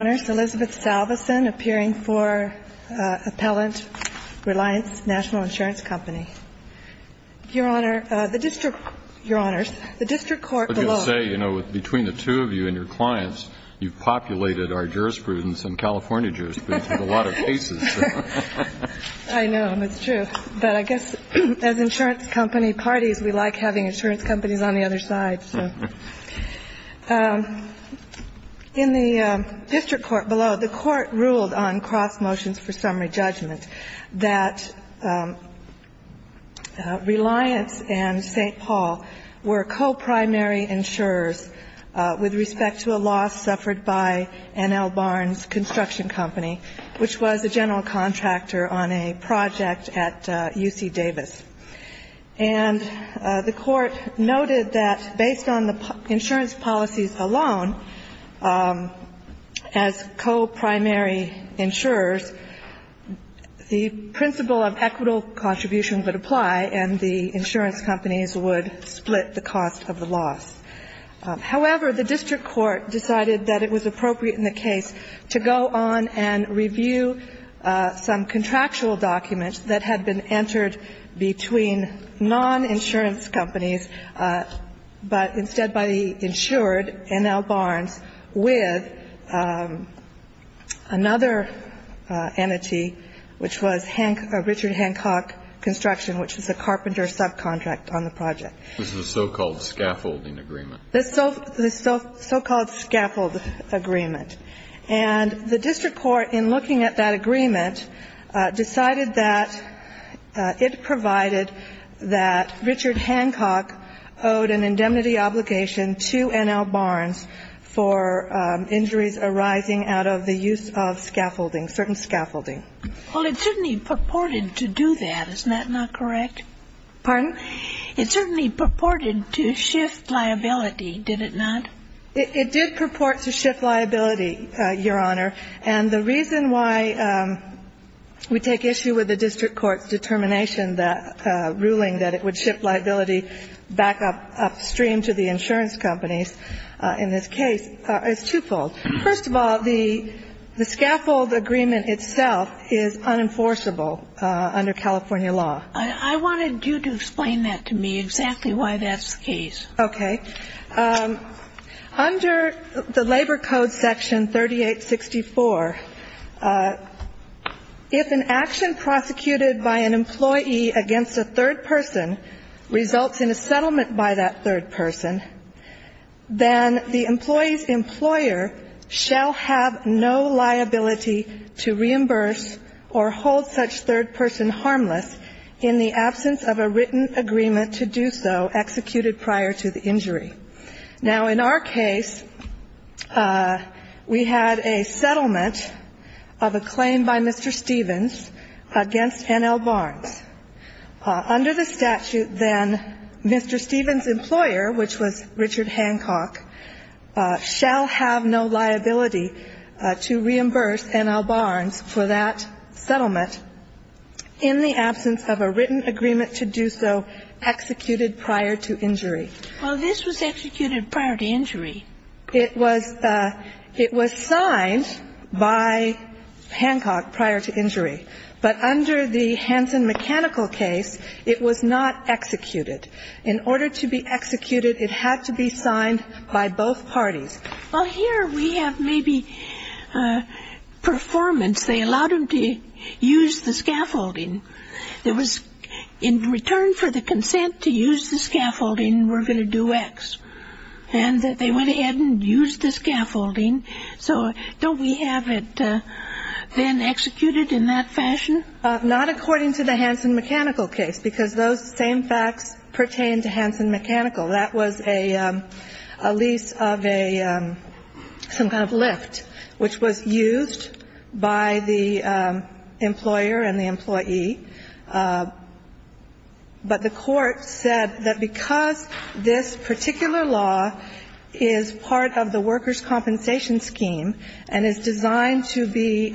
Salveson, appearing for Appellant Reliance National Insurance Company. Your Honor, the district – your Honors, the district court below – I was going to say, you know, between the two of you and your clients, you've populated our jurisprudence and California jurisprudence with a lot of cases. I know. That's true. But I guess as insurance company parties, we like having insurance companies on the other side, so. In the district court below, the court ruled on cross motions for summary judgment that Reliance and St. Paul were co-primary insurers with respect to a loss suffered by N.L. Barnes Construction Company, which was a general contractor on a project at UC Davis. And the court noted that based on the insurance policies alone, as co-primary insurers, the principle of equitable contribution would apply and the insurance companies would split the cost of the loss. However, the district court decided that it was appropriate in the case to go on and between non-insurance companies, but instead by the insured N.L. Barnes with another entity, which was Richard Hancock Construction, which was a carpenter subcontract on the project. This is the so-called scaffolding agreement. The so-called scaffold agreement. And the district court, in looking at that agreement, decided that it provided that Richard Hancock owed an indemnity obligation to N.L. Barnes for injuries arising out of the use of scaffolding, certain scaffolding. Well, it certainly purported to do that. Isn't that not correct? Pardon? It certainly purported to shift liability, did it not? It did purport to shift liability, Your Honor. And the reason why we take issue with the district court's determination that ruling that it would shift liability back upstream to the insurance companies in this case is twofold. First of all, the scaffold agreement itself is unenforceable under California law. I wanted you to explain that to me, exactly why that's the case. Okay. Under the Labor Code Section 3864, if an action prosecuted by an employee against a third person results in a settlement by that third person, then the employee's employer shall have no liability to reimburse or hold such third person harmless in the absence of a written agreement to do so executed prior to the injury. Now, in our case, we had a settlement of a claim by Mr. Stevens against N.L. Barnes. Under the statute, then, Mr. Stevens' employer, which was Richard Hancock, shall have no liability to reimburse N.L. Barnes for that settlement in the absence of a written agreement to do so executed prior to injury. Well, this was executed prior to injury. It was signed by Hancock prior to injury. But under the Hanson Mechanical case, it was not executed. In order to be executed, it had to be signed by both parties. Well, here we have maybe performance. They allowed him to use the scaffolding. It was in return for the consent to use the scaffolding, we're going to do X. And they went ahead and used the scaffolding. So don't we have it then executed in that fashion? Not according to the Hanson Mechanical case, because those same facts pertain to Hanson Mechanical. That was a lease of a some kind of lift, which was used by the employer and the employee. But the court said that because this particular law is part of the workers' compensation scheme and is designed to be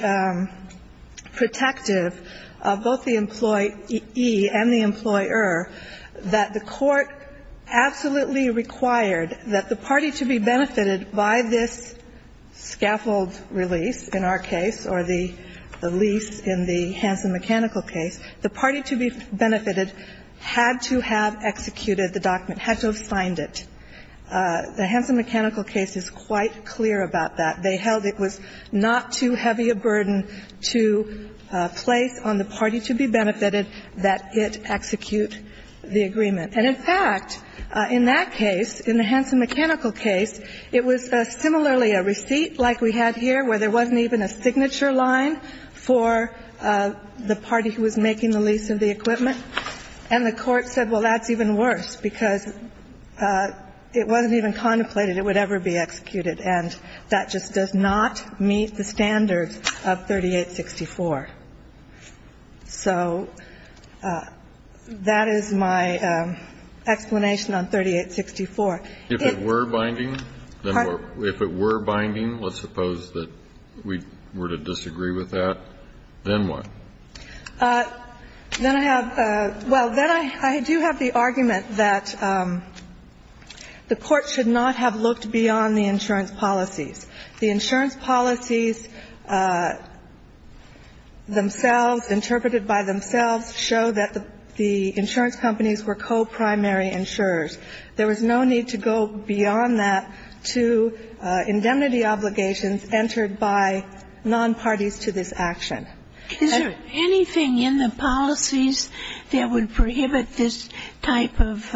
protective of both the employee and the employer, that the court absolutely required that the party to be benefited by this scaffold release in our case or the lease in the Hanson Mechanical case, the party to be benefited had to have executed the document, had to have signed it. The Hanson Mechanical case is quite clear about that. They held it was not too heavy a burden to place on the party to be benefited that it execute the agreement. And in fact, in that case, in the Hanson Mechanical case, it was similarly a receipt like we had here where there wasn't even a signature line for the party who was making the lease of the equipment. And the court said, well, that's even worse, because it wasn't even contemplated it would ever be executed, and that just does not meet the standards of 3864. So that is my explanation on 3864. If it were binding? If it were binding, let's suppose that we were to disagree with that, then what? Then I have the – well, then I do have the argument that the court should not have looked beyond the insurance policies. The insurance policies themselves, interpreted by themselves, show that the insurance companies were co-primary insurers. There was no need to go beyond that to indemnity obligations entered by nonparties to this action. Is there anything in the policies that would prohibit this type of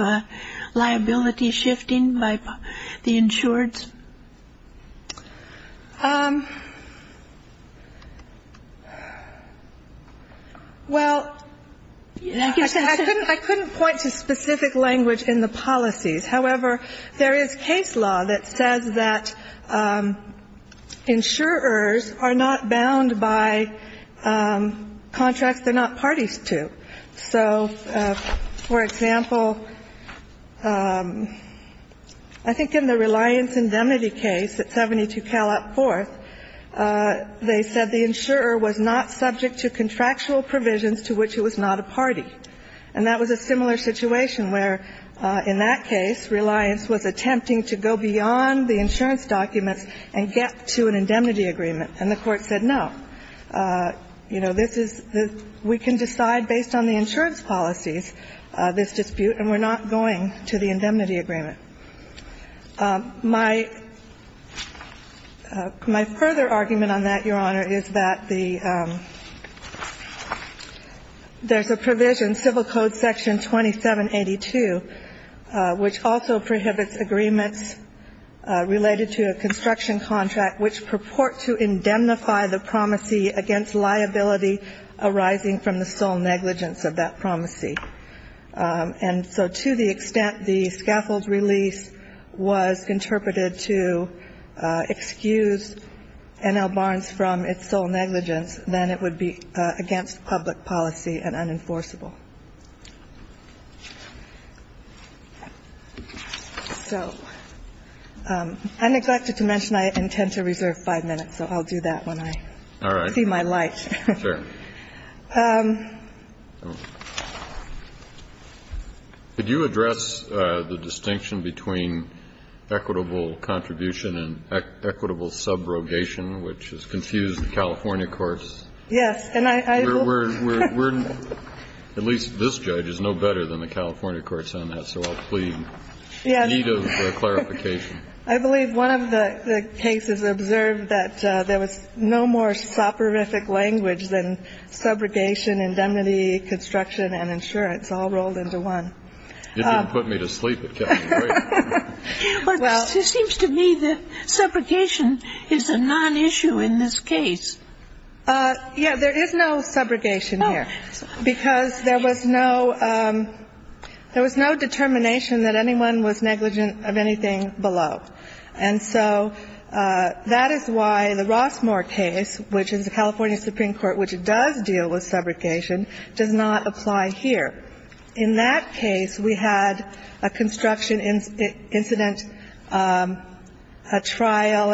liability shifting by the insureds? Well, I couldn't point to specific language in the policies. However, there is case law that says that insurers are not bound by contracts they're not parties to. So, for example, I think in the Reliance indemnity case at 72Cal up fourth, they said the insurer was not subject to contractual provisions to which it was not a party. And that was a similar situation where, in that case, Reliance was attempting to go beyond the insurance documents and get to an indemnity agreement. And the Court said no. You know, this is the we can decide based on the insurance policies, this dispute, and we're not going to the indemnity agreement. My further argument on that, Your Honor, is that the there's a provision, Civil Code Section 2782, which also prohibits agreements related to a construction contract which purport to indemnify the promisee against liability arising from the sole negligence of that promisee. And so to the extent the scaffold release was interpreted to excuse N.L. Barnes from its sole negligence, then it would be against public policy and unenforceable. So I neglected to mention I intend to reserve five minutes, so I'll do that when I see my light. All right. Sure. Could you address the distinction between equitable contribution and equitable subrogation, which has confused the California course? Yes. At least this judge is no better than the California courts on that, so I'll plead in need of clarification. I believe one of the cases observed that there was no more soporific language than subrogation, indemnity, construction, and insurance all rolled into one. It didn't put me to sleep. It kept me awake. Well, it seems to me that subrogation is a nonissue in this case. Yeah, there is no subrogation here, because there was no determination that anyone was negligent of anything below. And so that is why the Rossmore case, which is the California Supreme Court, which does deal with subrogation, does not apply here. In that case, we had a construction incident, a trial,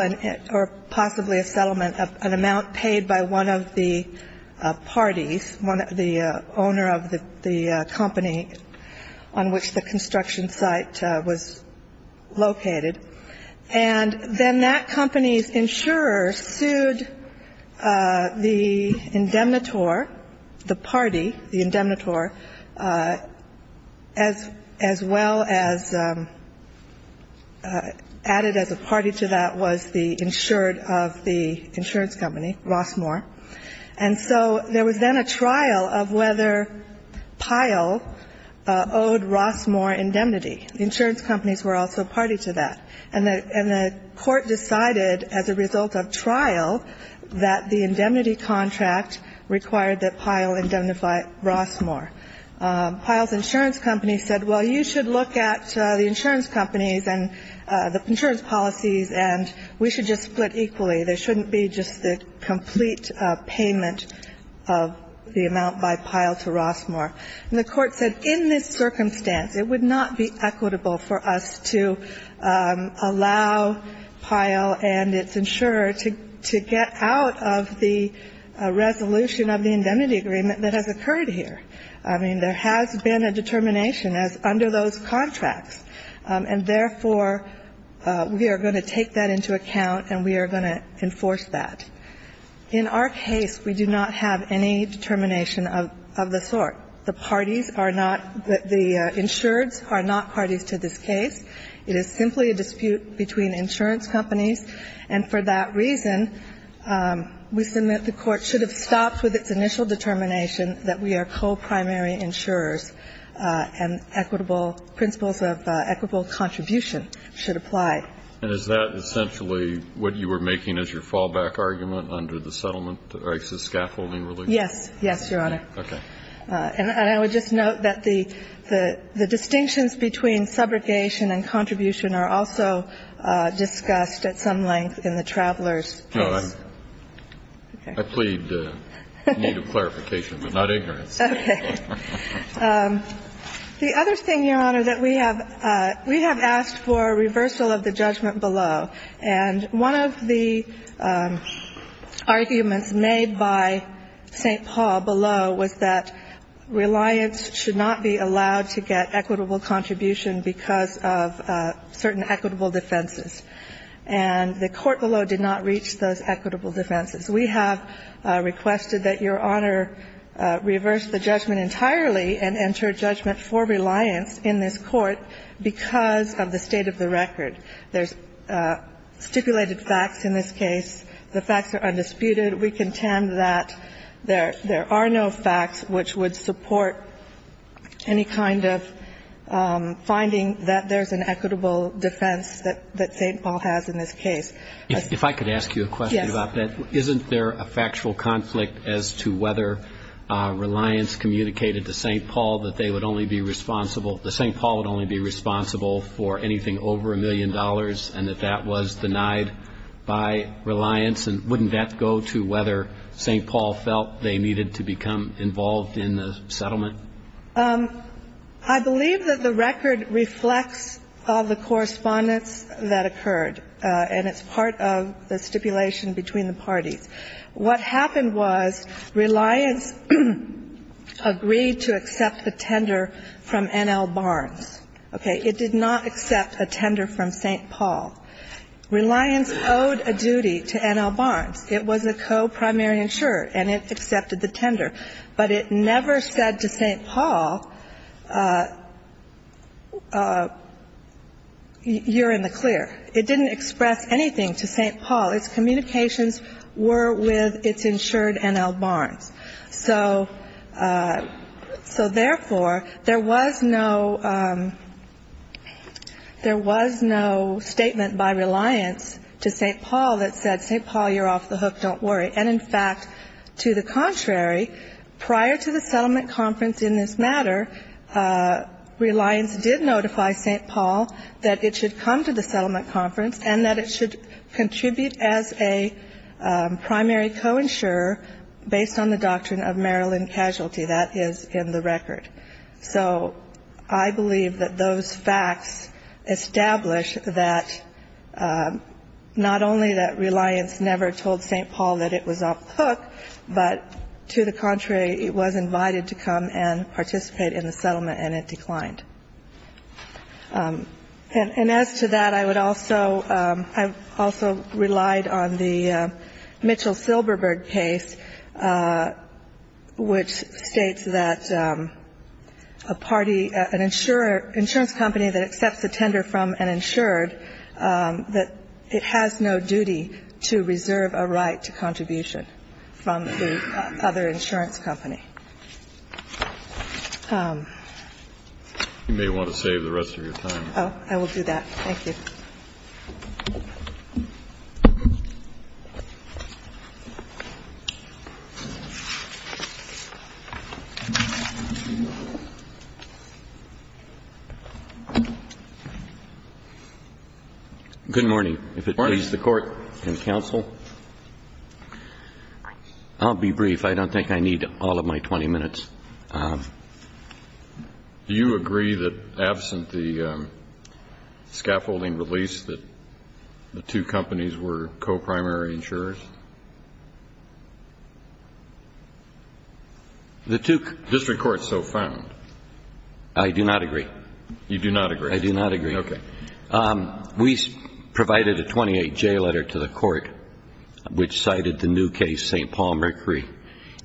or possibly a settlement of an amount paid by one of the parties, the owner of the company on which the construction site was located. And then that company's insurer sued the indemnitor, the party, the indemnitor, as well as added as a party to that was the insured of the insurance company, Rossmore. And so there was then a trial of whether Pyle owed Rossmore indemnity. The insurance companies were also party to that. And the court decided as a result of trial that the indemnity contract required that Pyle indemnify Rossmore. Pyle's insurance company said, well, you should look at the insurance companies and the insurance policies, and we should just split equally. There shouldn't be just the complete payment of the amount by Pyle to Rossmore. And the court said in this circumstance, it would not be equitable for us to allow Pyle and its insurer to get out of the resolution of the indemnity agreement that has occurred here. I mean, there has been a determination as under those contracts. And therefore, we are going to take that into account and we are going to enforce that. In our case, we do not have any determination of the sort. The parties are not the insureds are not parties to this case. It is simply a dispute between insurance companies. And for that reason, we submit the court should have stopped with its initial determination that we are co-primary insurers and equitable principles of equitable contribution should apply. And is that essentially what you were making as your fallback argument under the settlement of the scaffolding relief? Yes. Yes, Your Honor. Okay. And I would just note that the distinctions between subrogation and contribution are also discussed at some length in the traveler's case. No. I plead need of clarification, but not ignorance. Okay. The other thing, Your Honor, that we have asked for reversal of the judgment below. And one of the arguments made by St. Paul below was that reliance should not be allowed to get equitable contribution because of certain equitable defenses. And the court below did not reach those equitable defenses. We have requested that Your Honor reverse the judgment entirely and enter judgment for reliance in this court because of the state of the record. There's stipulated facts in this case. The facts are undisputed. We contend that there are no facts which would support any kind of finding that there's an equitable defense that St. Paul has in this case. If I could ask you a question about that. Yes. Isn't there a factual conflict as to whether reliance communicated to St. Paul that they would only be responsible, that St. Paul would only be responsible for anything over a million dollars and that that was denied by reliance? And wouldn't that go to whether St. Paul felt they needed to become involved in the settlement? I believe that the record reflects all the correspondence that occurred. And it's part of the stipulation between the parties. What happened was reliance agreed to accept a tender from N.L. Barnes. Okay. It did not accept a tender from St. Paul. Reliance owed a duty to N.L. Barnes. It was a co-primary insurer and it accepted the tender. But it never said to St. Paul, you're in the clear. It didn't express anything to St. Paul. Its communications were with its insured N.L. Barnes. So therefore, there was no statement by reliance to St. Paul that said, St. Paul, you're off the hook, don't worry. And, in fact, to the contrary, prior to the settlement conference in this matter, reliance did notify St. Paul that it should come to the settlement conference and that it should contribute as a primary co-insurer based on the doctrine of Maryland casualty. That is in the record. So I believe that those facts establish that not only that reliance never told St. Paul that it was off the hook, but to the contrary, it was invited to come and participate in the settlement and it declined. And as to that, I would also rely on the Mitchell-Silberberg case, which states that a party, an insurance company that accepts a tender from an insured, that it has no duty to reserve a right to contribution from the other insurance company. And I think that's all I have to say. Thank you. Thank you. You may want to save the rest of your time. Oh, I will do that. Thank you. Good morning. Morning. Please, the Court and counsel. I'll be brief. I don't think I need all of my 20 minutes. Do you agree that absent the scaffolding release that the two companies were co-primary insurers? The two co- District court so found. I do not agree. You do not agree? I do not agree. Okay. We provided a 28-J letter to the Court, which cited the new case, St. Paul Mercury.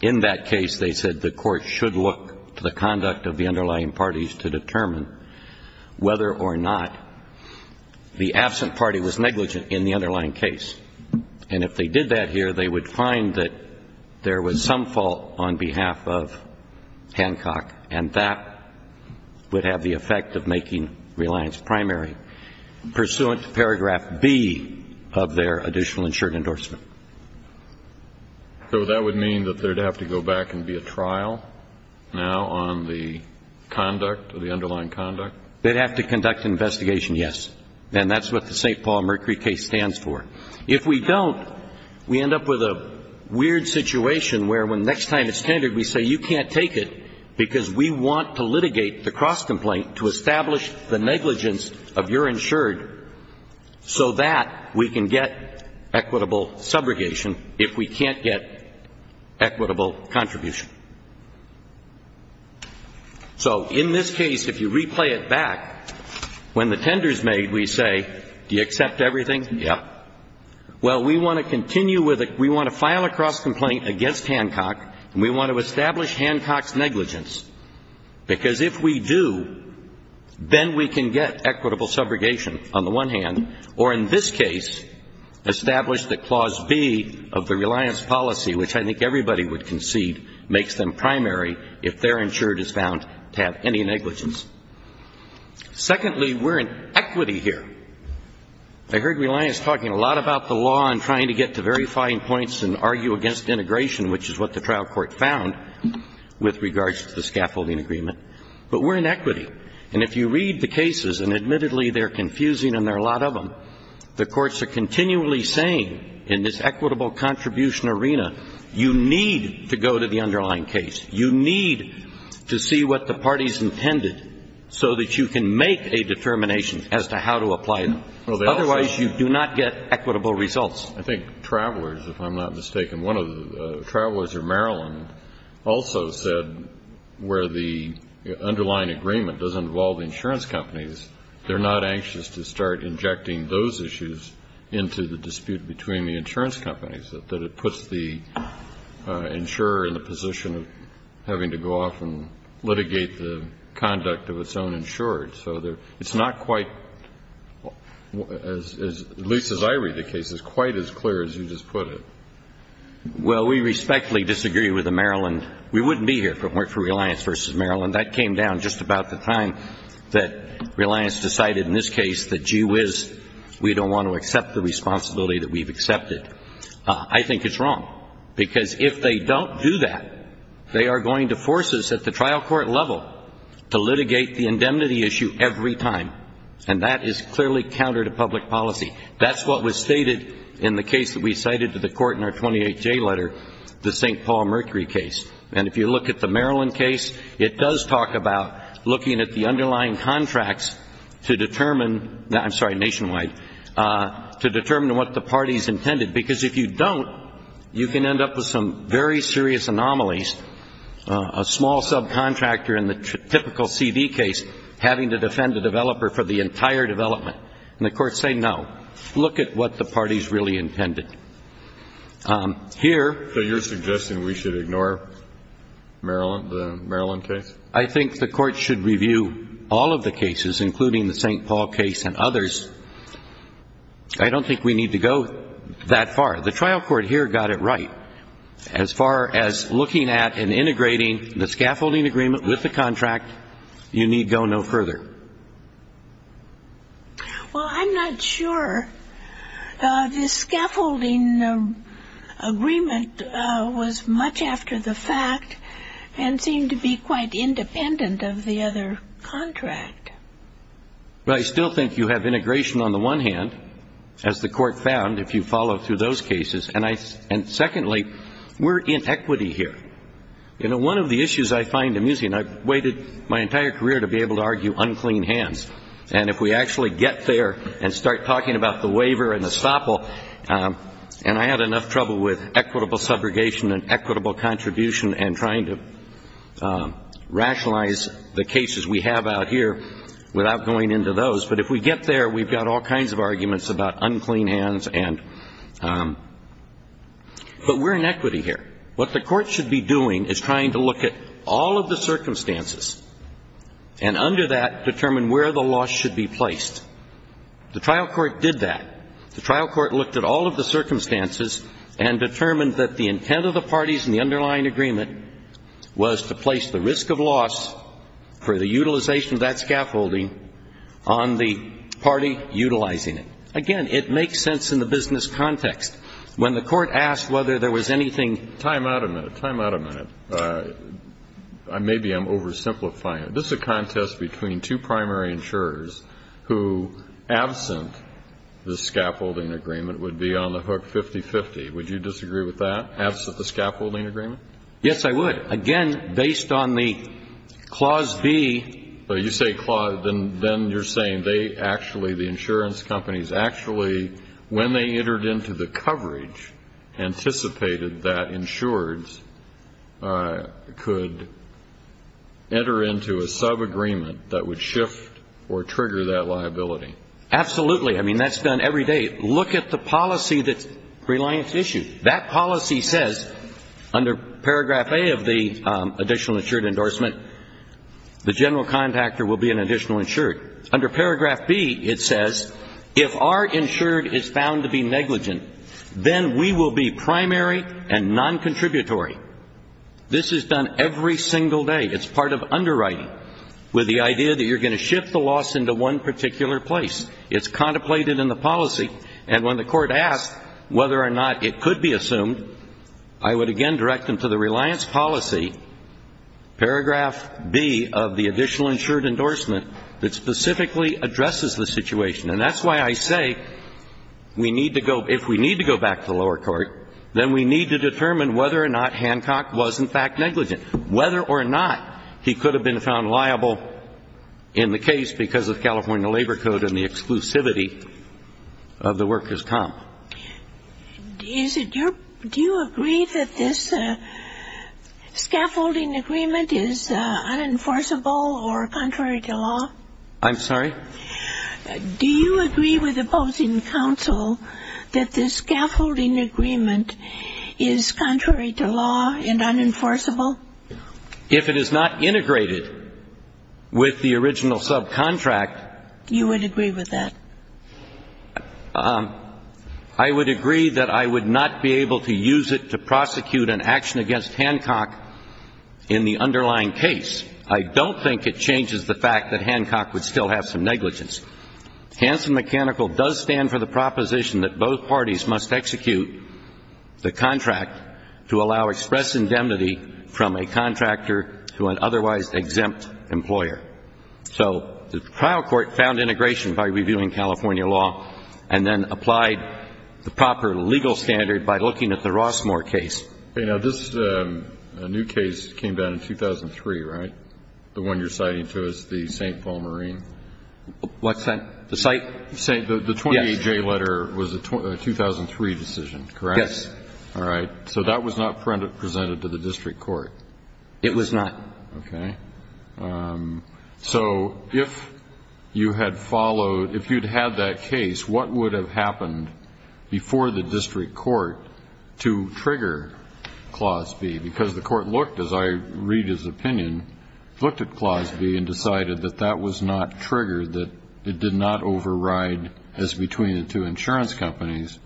In that case, they said the Court should look to the conduct of the underlying parties to determine whether or not the absent party was negligent in the underlying case. And if they did that here, they would find that there was some fault on behalf of Hancock, and that would have the effect of making Reliance primary, pursuant to paragraph B of their additional insured endorsement. So that would mean that they'd have to go back and be a trial now on the conduct, the underlying conduct? They'd have to conduct an investigation, yes. And that's what the St. Paul Mercury case stands for. If we don't, we end up with a weird situation where the next time it's standard, we say you can't take it because we want to litigate the cross-complaint to establish the negligence of your insured so that we can get equitable subrogation if we can't get equitable contribution. So in this case, if you replay it back, when the tender's made, we say, do you accept everything? Yes. Well, we want to continue with it. We want to file a cross-complaint against Hancock, and we want to establish Hancock's negligence, because if we do, then we can get equitable subrogation on the one hand, or in this case establish the clause B of the Reliance policy, which I think everybody would concede makes them primary if their insured is found to have any negligence. Secondly, we're in equity here. I heard Reliance talking a lot about the law and trying to get to verifying points and argue against integration, which is what the trial court found with regards to the scaffolding agreement. But we're in equity. And if you read the cases, and admittedly they're confusing and there are a lot of them, the courts are continually saying in this equitable contribution arena, you need to go to the underlying case. You need to see what the party's intended so that you can make a determination as to how to apply it. Otherwise, you do not get equitable results. I think Travelers, if I'm not mistaken, one of the Travelers of Maryland, also said where the underlying agreement doesn't involve insurance companies, they're not anxious to start injecting those issues into the dispute between the insurance companies, that it puts the insurer in the position of having to go off and litigate the conduct of its own insured. So it's not quite, at least as I read the cases, quite as clear as you just put it. Well, we respectfully disagree with the Maryland. We wouldn't be here if it weren't for Reliance v. Maryland. That came down just about the time that Reliance decided in this case that, gee whiz, we don't want to accept the responsibility that we've accepted. I think it's wrong, because if they don't do that, they are going to force us at the trial court level to litigate the indemnity issue every time, and that is clearly counter to public policy. That's what was stated in the case that we cited to the court in our 28J letter, the St. Paul Mercury case. And if you look at the Maryland case, it does talk about looking at the underlying contracts to determine, I'm sorry, nationwide, to determine what the parties intended. Because if you don't, you can end up with some very serious anomalies, a small subcontractor in the typical C.V. case having to defend the developer for the entire development. And the courts say no. Look at what the parties really intended. So you're suggesting we should ignore Maryland, the Maryland case? I think the court should review all of the cases, including the St. Paul case and others. I don't think we need to go that far. The trial court here got it right. As far as looking at and integrating the scaffolding agreement with the contract, you need go no further. Well, I'm not sure. The scaffolding agreement was much after the fact and seemed to be quite independent of the other contract. Well, I still think you have integration on the one hand, as the court found, if you follow through those cases. And secondly, we're in equity here. You know, one of the issues I find amusing, I've waited my entire career to be able to argue unclean hands. And if we actually get there and start talking about the waiver and estoppel, and I had enough trouble with equitable subrogation and equitable contribution and trying to rationalize the cases we have out here without going into those. But if we get there, we've got all kinds of arguments about unclean hands. But we're in equity here. What the court should be doing is trying to look at all of the circumstances and under that determine where the loss should be placed. The trial court did that. The trial court looked at all of the circumstances and determined that the intent of the parties in the underlying agreement was to place the risk of loss for the utilization of that scaffolding on the party utilizing it. Again, it makes sense in the business context. When the court asked whether there was anything. Time out a minute. Time out a minute. Maybe I'm oversimplifying it. This is a contest between two primary insurers who, absent the scaffolding agreement, would be on the hook 50-50. Would you disagree with that, absent the scaffolding agreement? Yes, I would. Again, based on the clause B. You say clause, then you're saying they actually, the insurance companies, actually when they entered into the coverage, anticipated that insureds could enter into a subagreement that would shift or trigger that liability. Absolutely. I mean, that's done every day. Look at the policy that Reliance issued. That policy says under paragraph A of the additional insured endorsement, the general contactor will be an additional insured. Under paragraph B, it says if our insured is found to be negligent, then we will be primary and non-contributory. This is done every single day. It's part of underwriting with the idea that you're going to shift the loss into one particular place. It's contemplated in the policy. And when the court asked whether or not it could be assumed, I would again direct them to the Reliance policy, paragraph B, of the additional insured endorsement that specifically addresses the situation. And that's why I say we need to go, if we need to go back to lower court, then we need to determine whether or not Hancock was in fact negligent, whether or not he could have been found liable in the case because of California Labor Code and the exclusivity of the workers' comp. Do you agree that this scaffolding agreement is unenforceable or contrary to law? I'm sorry? Do you agree with opposing counsel that this scaffolding agreement is contrary to law and unenforceable? If it is not integrated with the original subcontract. You would agree with that? I would agree that I would not be able to use it to prosecute an action against Hancock in the underlying case. I don't think it changes the fact that Hancock would still have some negligence. Hanson Mechanical does stand for the proposition that both parties must execute the contract to allow express indemnity from a contractor to an otherwise exempt employer. So the trial court found integration by reviewing California law and then applied the proper legal standard by looking at the Rossmore case. Now, this new case came down in 2003, right, the one you're citing to us, the St. Paul Marine? What site? The site? The 28J letter was a 2003 decision, correct? Yes. All right. So that was not presented to the district court? It was not. Okay. So if you had followed, if you'd had that case, what would have happened before the district court to trigger Clause B? Because the court looked, as I read his opinion, looked at Clause B and decided that that was not triggered, that it did not override as between the two insurance companies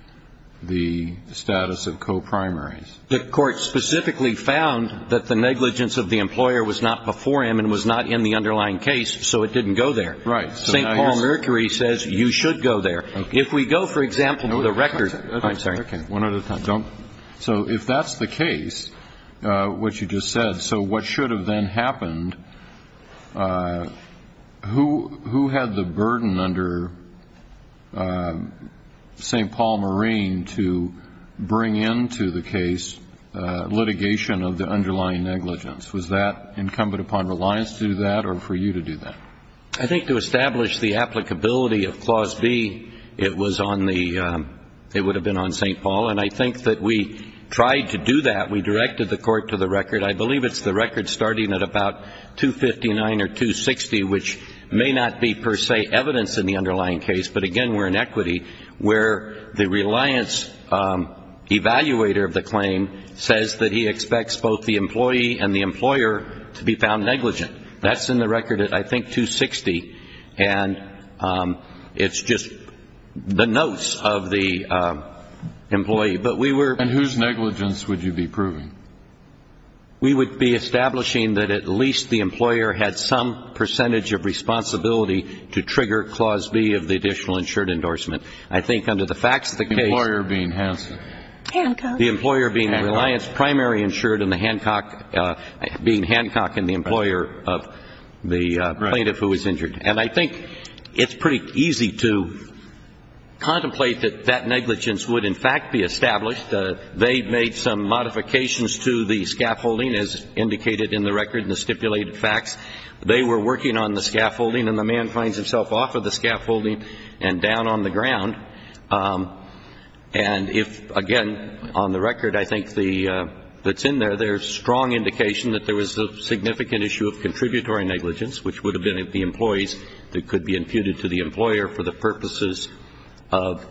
the status of co-primaries. The court specifically found that the negligence of the employer was not before him and was not in the underlying case, so it didn't go there. Right. St. Paul Mercury says you should go there. If we go, for example, to the record. I'm sorry. One at a time. So if that's the case, what you just said, so what should have then happened? Who had the burden under St. Paul Marine to bring into the case litigation of the underlying negligence? Was that incumbent upon Reliance to do that or for you to do that? I think to establish the applicability of Clause B, it was on the, it would have been on St. Paul, and I think that we tried to do that. We directed the court to the record. I believe it's the record starting at about 259 or 260, which may not be per se evidence in the underlying case, but, again, we're in equity where the Reliance evaluator of the claim says that he expects both the employee and the employer to be found negligent. That's in the record at, I think, 260, and it's just the notes of the employee. But we were. And whose negligence would you be proving? We would be establishing that at least the employer had some percentage of responsibility to trigger Clause B of the additional insured endorsement. I think under the facts of the case. The employer being Hanson. Hancock. The employer being Reliance, primary insured and the Hancock, being Hancock and the employer of the plaintiff who was injured. And I think it's pretty easy to contemplate that that negligence would, in fact, be established. They made some modifications to the scaffolding, as indicated in the record in the stipulated facts. They were working on the scaffolding, and the man finds himself off of the scaffolding and down on the ground. And if, again, on the record, I think, that's in there, there's strong indication that there was a significant issue of contributory negligence, which would have been at the employees that could be imputed to the employer for the purposes of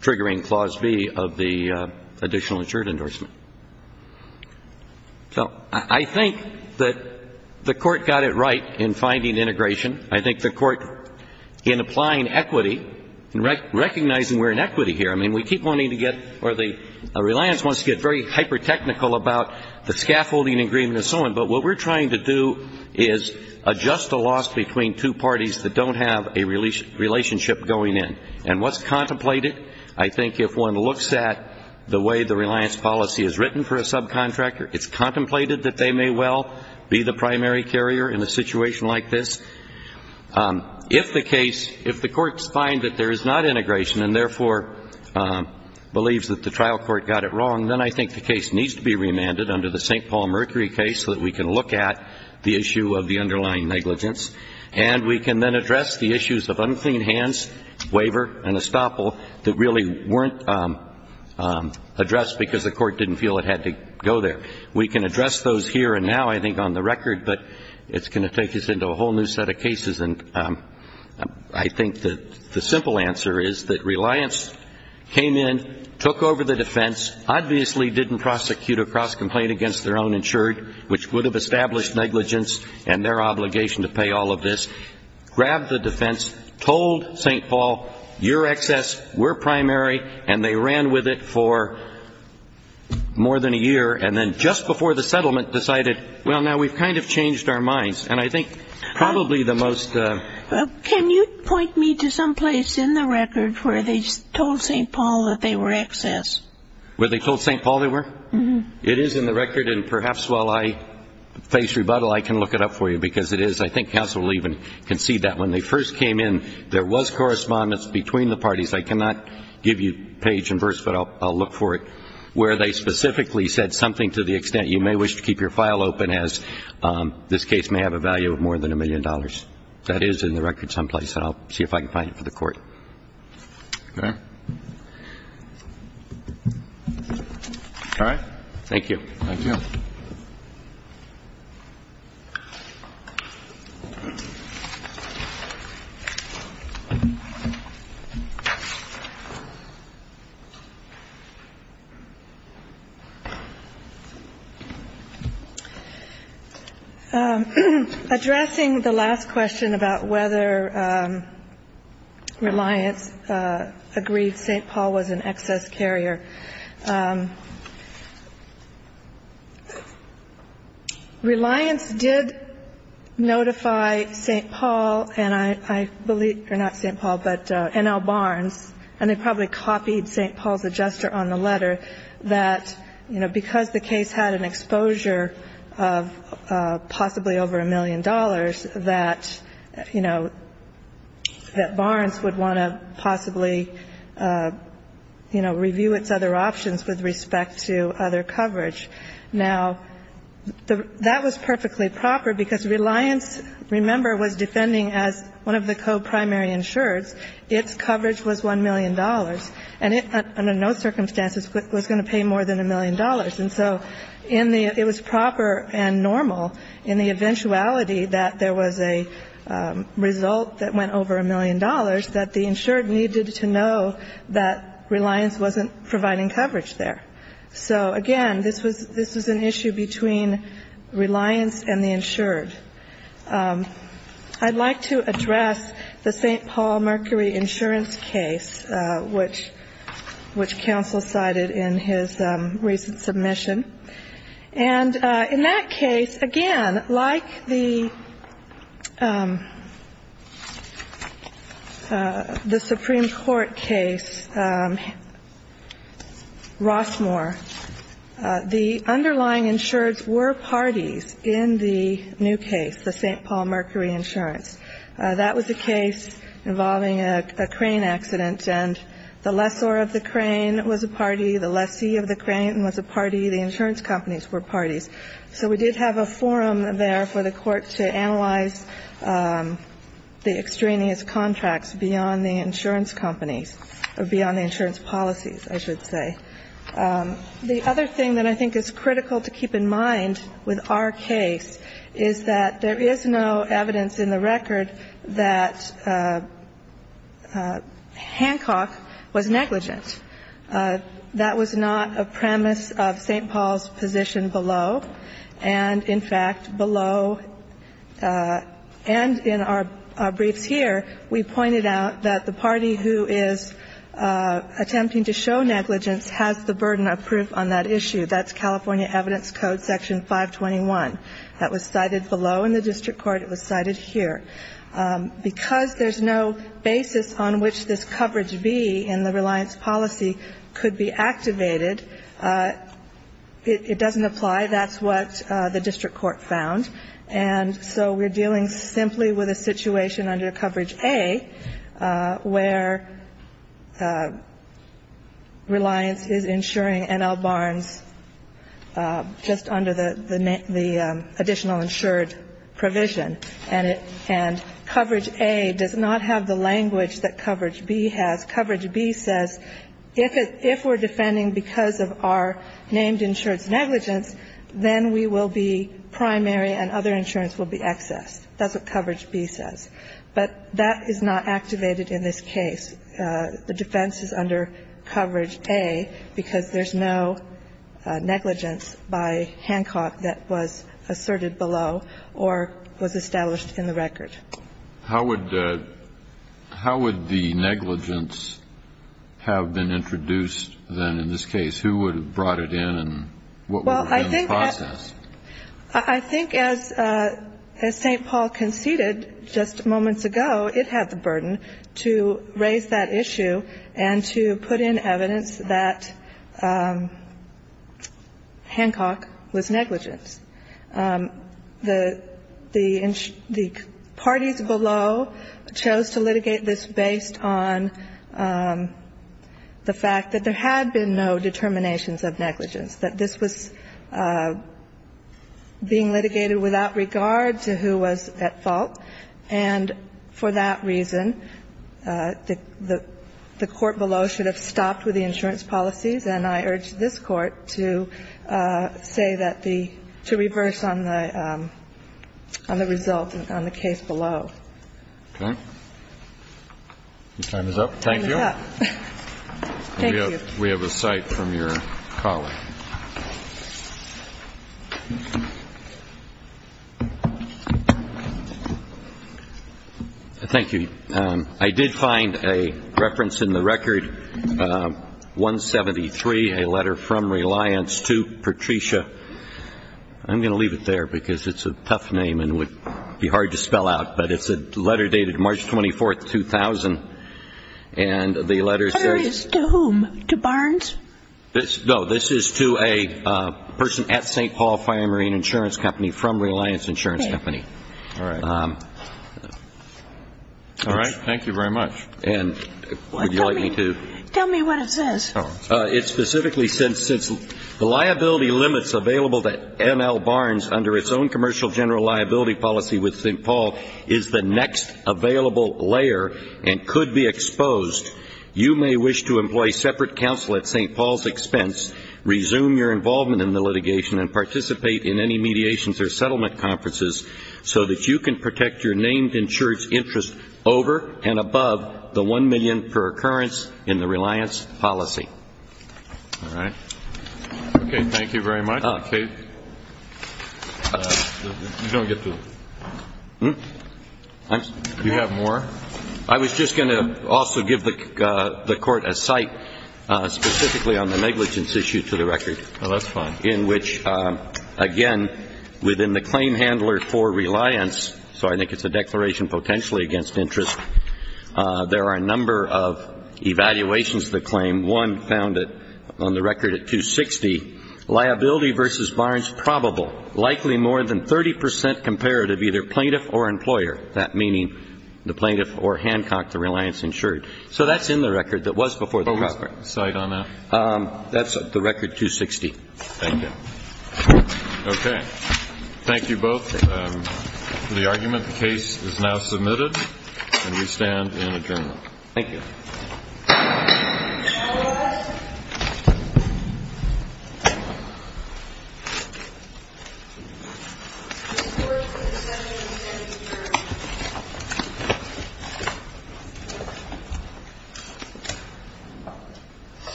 triggering Clause B of the additional insured endorsement. So I think that the Court got it right in finding integration. I think the Court, in applying equity and recognizing we're in equity here, I mean, Reliance wants to get very hyper-technical about the scaffolding agreement and so on, but what we're trying to do is adjust the loss between two parties that don't have a relationship going in. And what's contemplated? I think if one looks at the way the Reliance policy is written for a subcontractor, it's contemplated that they may well be the primary carrier in a situation like this. If the case, if the courts find that there is not integration and therefore believes that the trial court got it wrong, then I think the case needs to be remanded under the St. Paul Mercury case so that we can look at the issue of the underlying negligence. And we can then address the issues of unclean hands, waiver, and estoppel that really weren't addressed because the Court didn't feel it had to go there. We can address those here and now, I think, on the record, but it's going to take us into a whole new set of cases. And I think the simple answer is that Reliance came in, took over the defense, obviously didn't prosecute a cross-complaint against their own insured, which would have established negligence and their obligation to pay all of this, grabbed the defense, told St. Paul, your excess, we're primary, and they ran with it for more than a year, and then just before the settlement decided, well, now we've kind of changed our minds. And I think probably the most ‑‑ Can you point me to someplace in the record where they told St. Paul that they were excess? Where they told St. Paul they were? Mm-hmm. It is in the record, and perhaps while I face rebuttal, I can look it up for you, because it is, I think counsel will even concede that when they first came in, there was correspondence between the parties. I cannot give you page and verse, but I'll look for it, where they specifically said something to the extent you may wish to keep your file open, as this case may have a value of more than a million dollars. That is in the record someplace, and I'll see if I can find it for the Court. Okay. All right. Thank you. Addressing the last question about whether Reliance agreed St. Paul was an excess carrier, Reliance did notify St. Paul and I believe ‑‑ or not St. Paul, but N.L. Barnes, and they probably copied St. Paul's adjuster on the letter that, you know, because the case had an exposure of possibly over a million dollars, that, you know, that Barnes would want to possibly, you know, review its other options with respect to other coverage. Now, that was perfectly proper, because Reliance, remember, was defending as one of the co‑primary insureds, its coverage was $1 million, and it under no circumstances was going to pay more than a million dollars. And so in the ‑‑ it was proper and normal in the eventuality that there was a result that went over a million dollars that the insured needed to know that Reliance wasn't providing coverage there. So, again, this was an issue between Reliance and the insured. I'd like to address the St. Paul Mercury insurance case, which counsel cited in his recent submission. And in that case, again, like the Supreme Court case, Rossmore, the underlying insureds were parties in the new case, the St. Paul Mercury insurance. That was a case involving a crane accident, and the lessor of the crane was a party, the lessee of the crane was a party, the insurance companies were parties. So we did have a forum there for the Court to analyze the extraneous contracts beyond the insurance companies, or beyond the insurance policies, I should say. The other thing that I think is critical to keep in mind with our case is that there is no evidence in the record that Hancock was negligent. That was not a premise of St. Paul's position below. And, in fact, below, and in our briefs here, we pointed out that the party who is attempting to show negligence has the burden of proof on that issue. That's California Evidence Code Section 521. That was cited below in the district court, it was cited here. Because there's no basis on which this coverage B in the reliance policy could be activated, it doesn't apply, that's what the district court found. And so we're dealing simply with a situation under coverage A where reliance is insuring N.L. Barnes just under the additional insured provision. And coverage A does not have the language that coverage B has. Coverage B says if we're defending because of our named insurance negligence, then we will be primary and other insurance will be excess. That's what coverage B says. But that is not activated in this case. The defense is under coverage A because there's no negligence by Hancock that was asserted below or was established in the record. Kennedy. How would the negligence have been introduced, then, in this case? Who would have brought it in and what would have been the process? I think as St. Paul conceded just moments ago, it had the burden to raise that issue and to put in evidence that Hancock was negligent. The parties below chose to litigate this based on the fact that there had been no determinations of negligence, that this was being litigated without regard to who was at fault. And for that reason, the court below should have stopped with the insurance policies. And I urge this Court to say that the to reverse on the result on the case below. Okay. Your time is up. Thank you. Thank you. We have a cite from your colleague. Thank you. I did find a reference in the record, 173, a letter from Reliance to Patricia. I'm going to leave it there because it's a tough name and would be hard to spell out. But it's a letter dated March 24th, 2000. And the letter says to whom? To Barnes? No. This is to a person at St. Paul Fire and Marine Insurance Company from Reliance Insurance Company. Okay. All right. All right. Thank you very much. And would you like me to? Tell me what it says. It specifically says, since the liability limits available at N.L. Barnes under its own commercial general liability policy with St. Paul is the next available layer and could be exposed, you may wish to employ separate counsel at St. Paul's expense, resume your involvement in the litigation, and participate in any mediations or settlement conferences so that you can protect your named insurance interest over and above the $1 million per occurrence in the Reliance policy. All right. Okay. Thank you very much. Okay. You don't get to it. Do you have more? I was just going to also give the Court a cite specifically on the negligence issue to the record. Oh, that's fine. In which, again, within the claim handler for Reliance, so I think it's a declaration potentially against interest, there are a number of evaluations to the claim. One found on the record at 260, liability versus Barnes probable, likely more than 30 percent comparative either plaintiff or employer, that meaning the plaintiff or Hancock, the Reliance insured. So that's in the record that was before the contract. What was the cite on that? That's the record 260. Thank you. Okay. Thank you both for the argument. The case is now submitted, and we stand in adjournment. Thank you.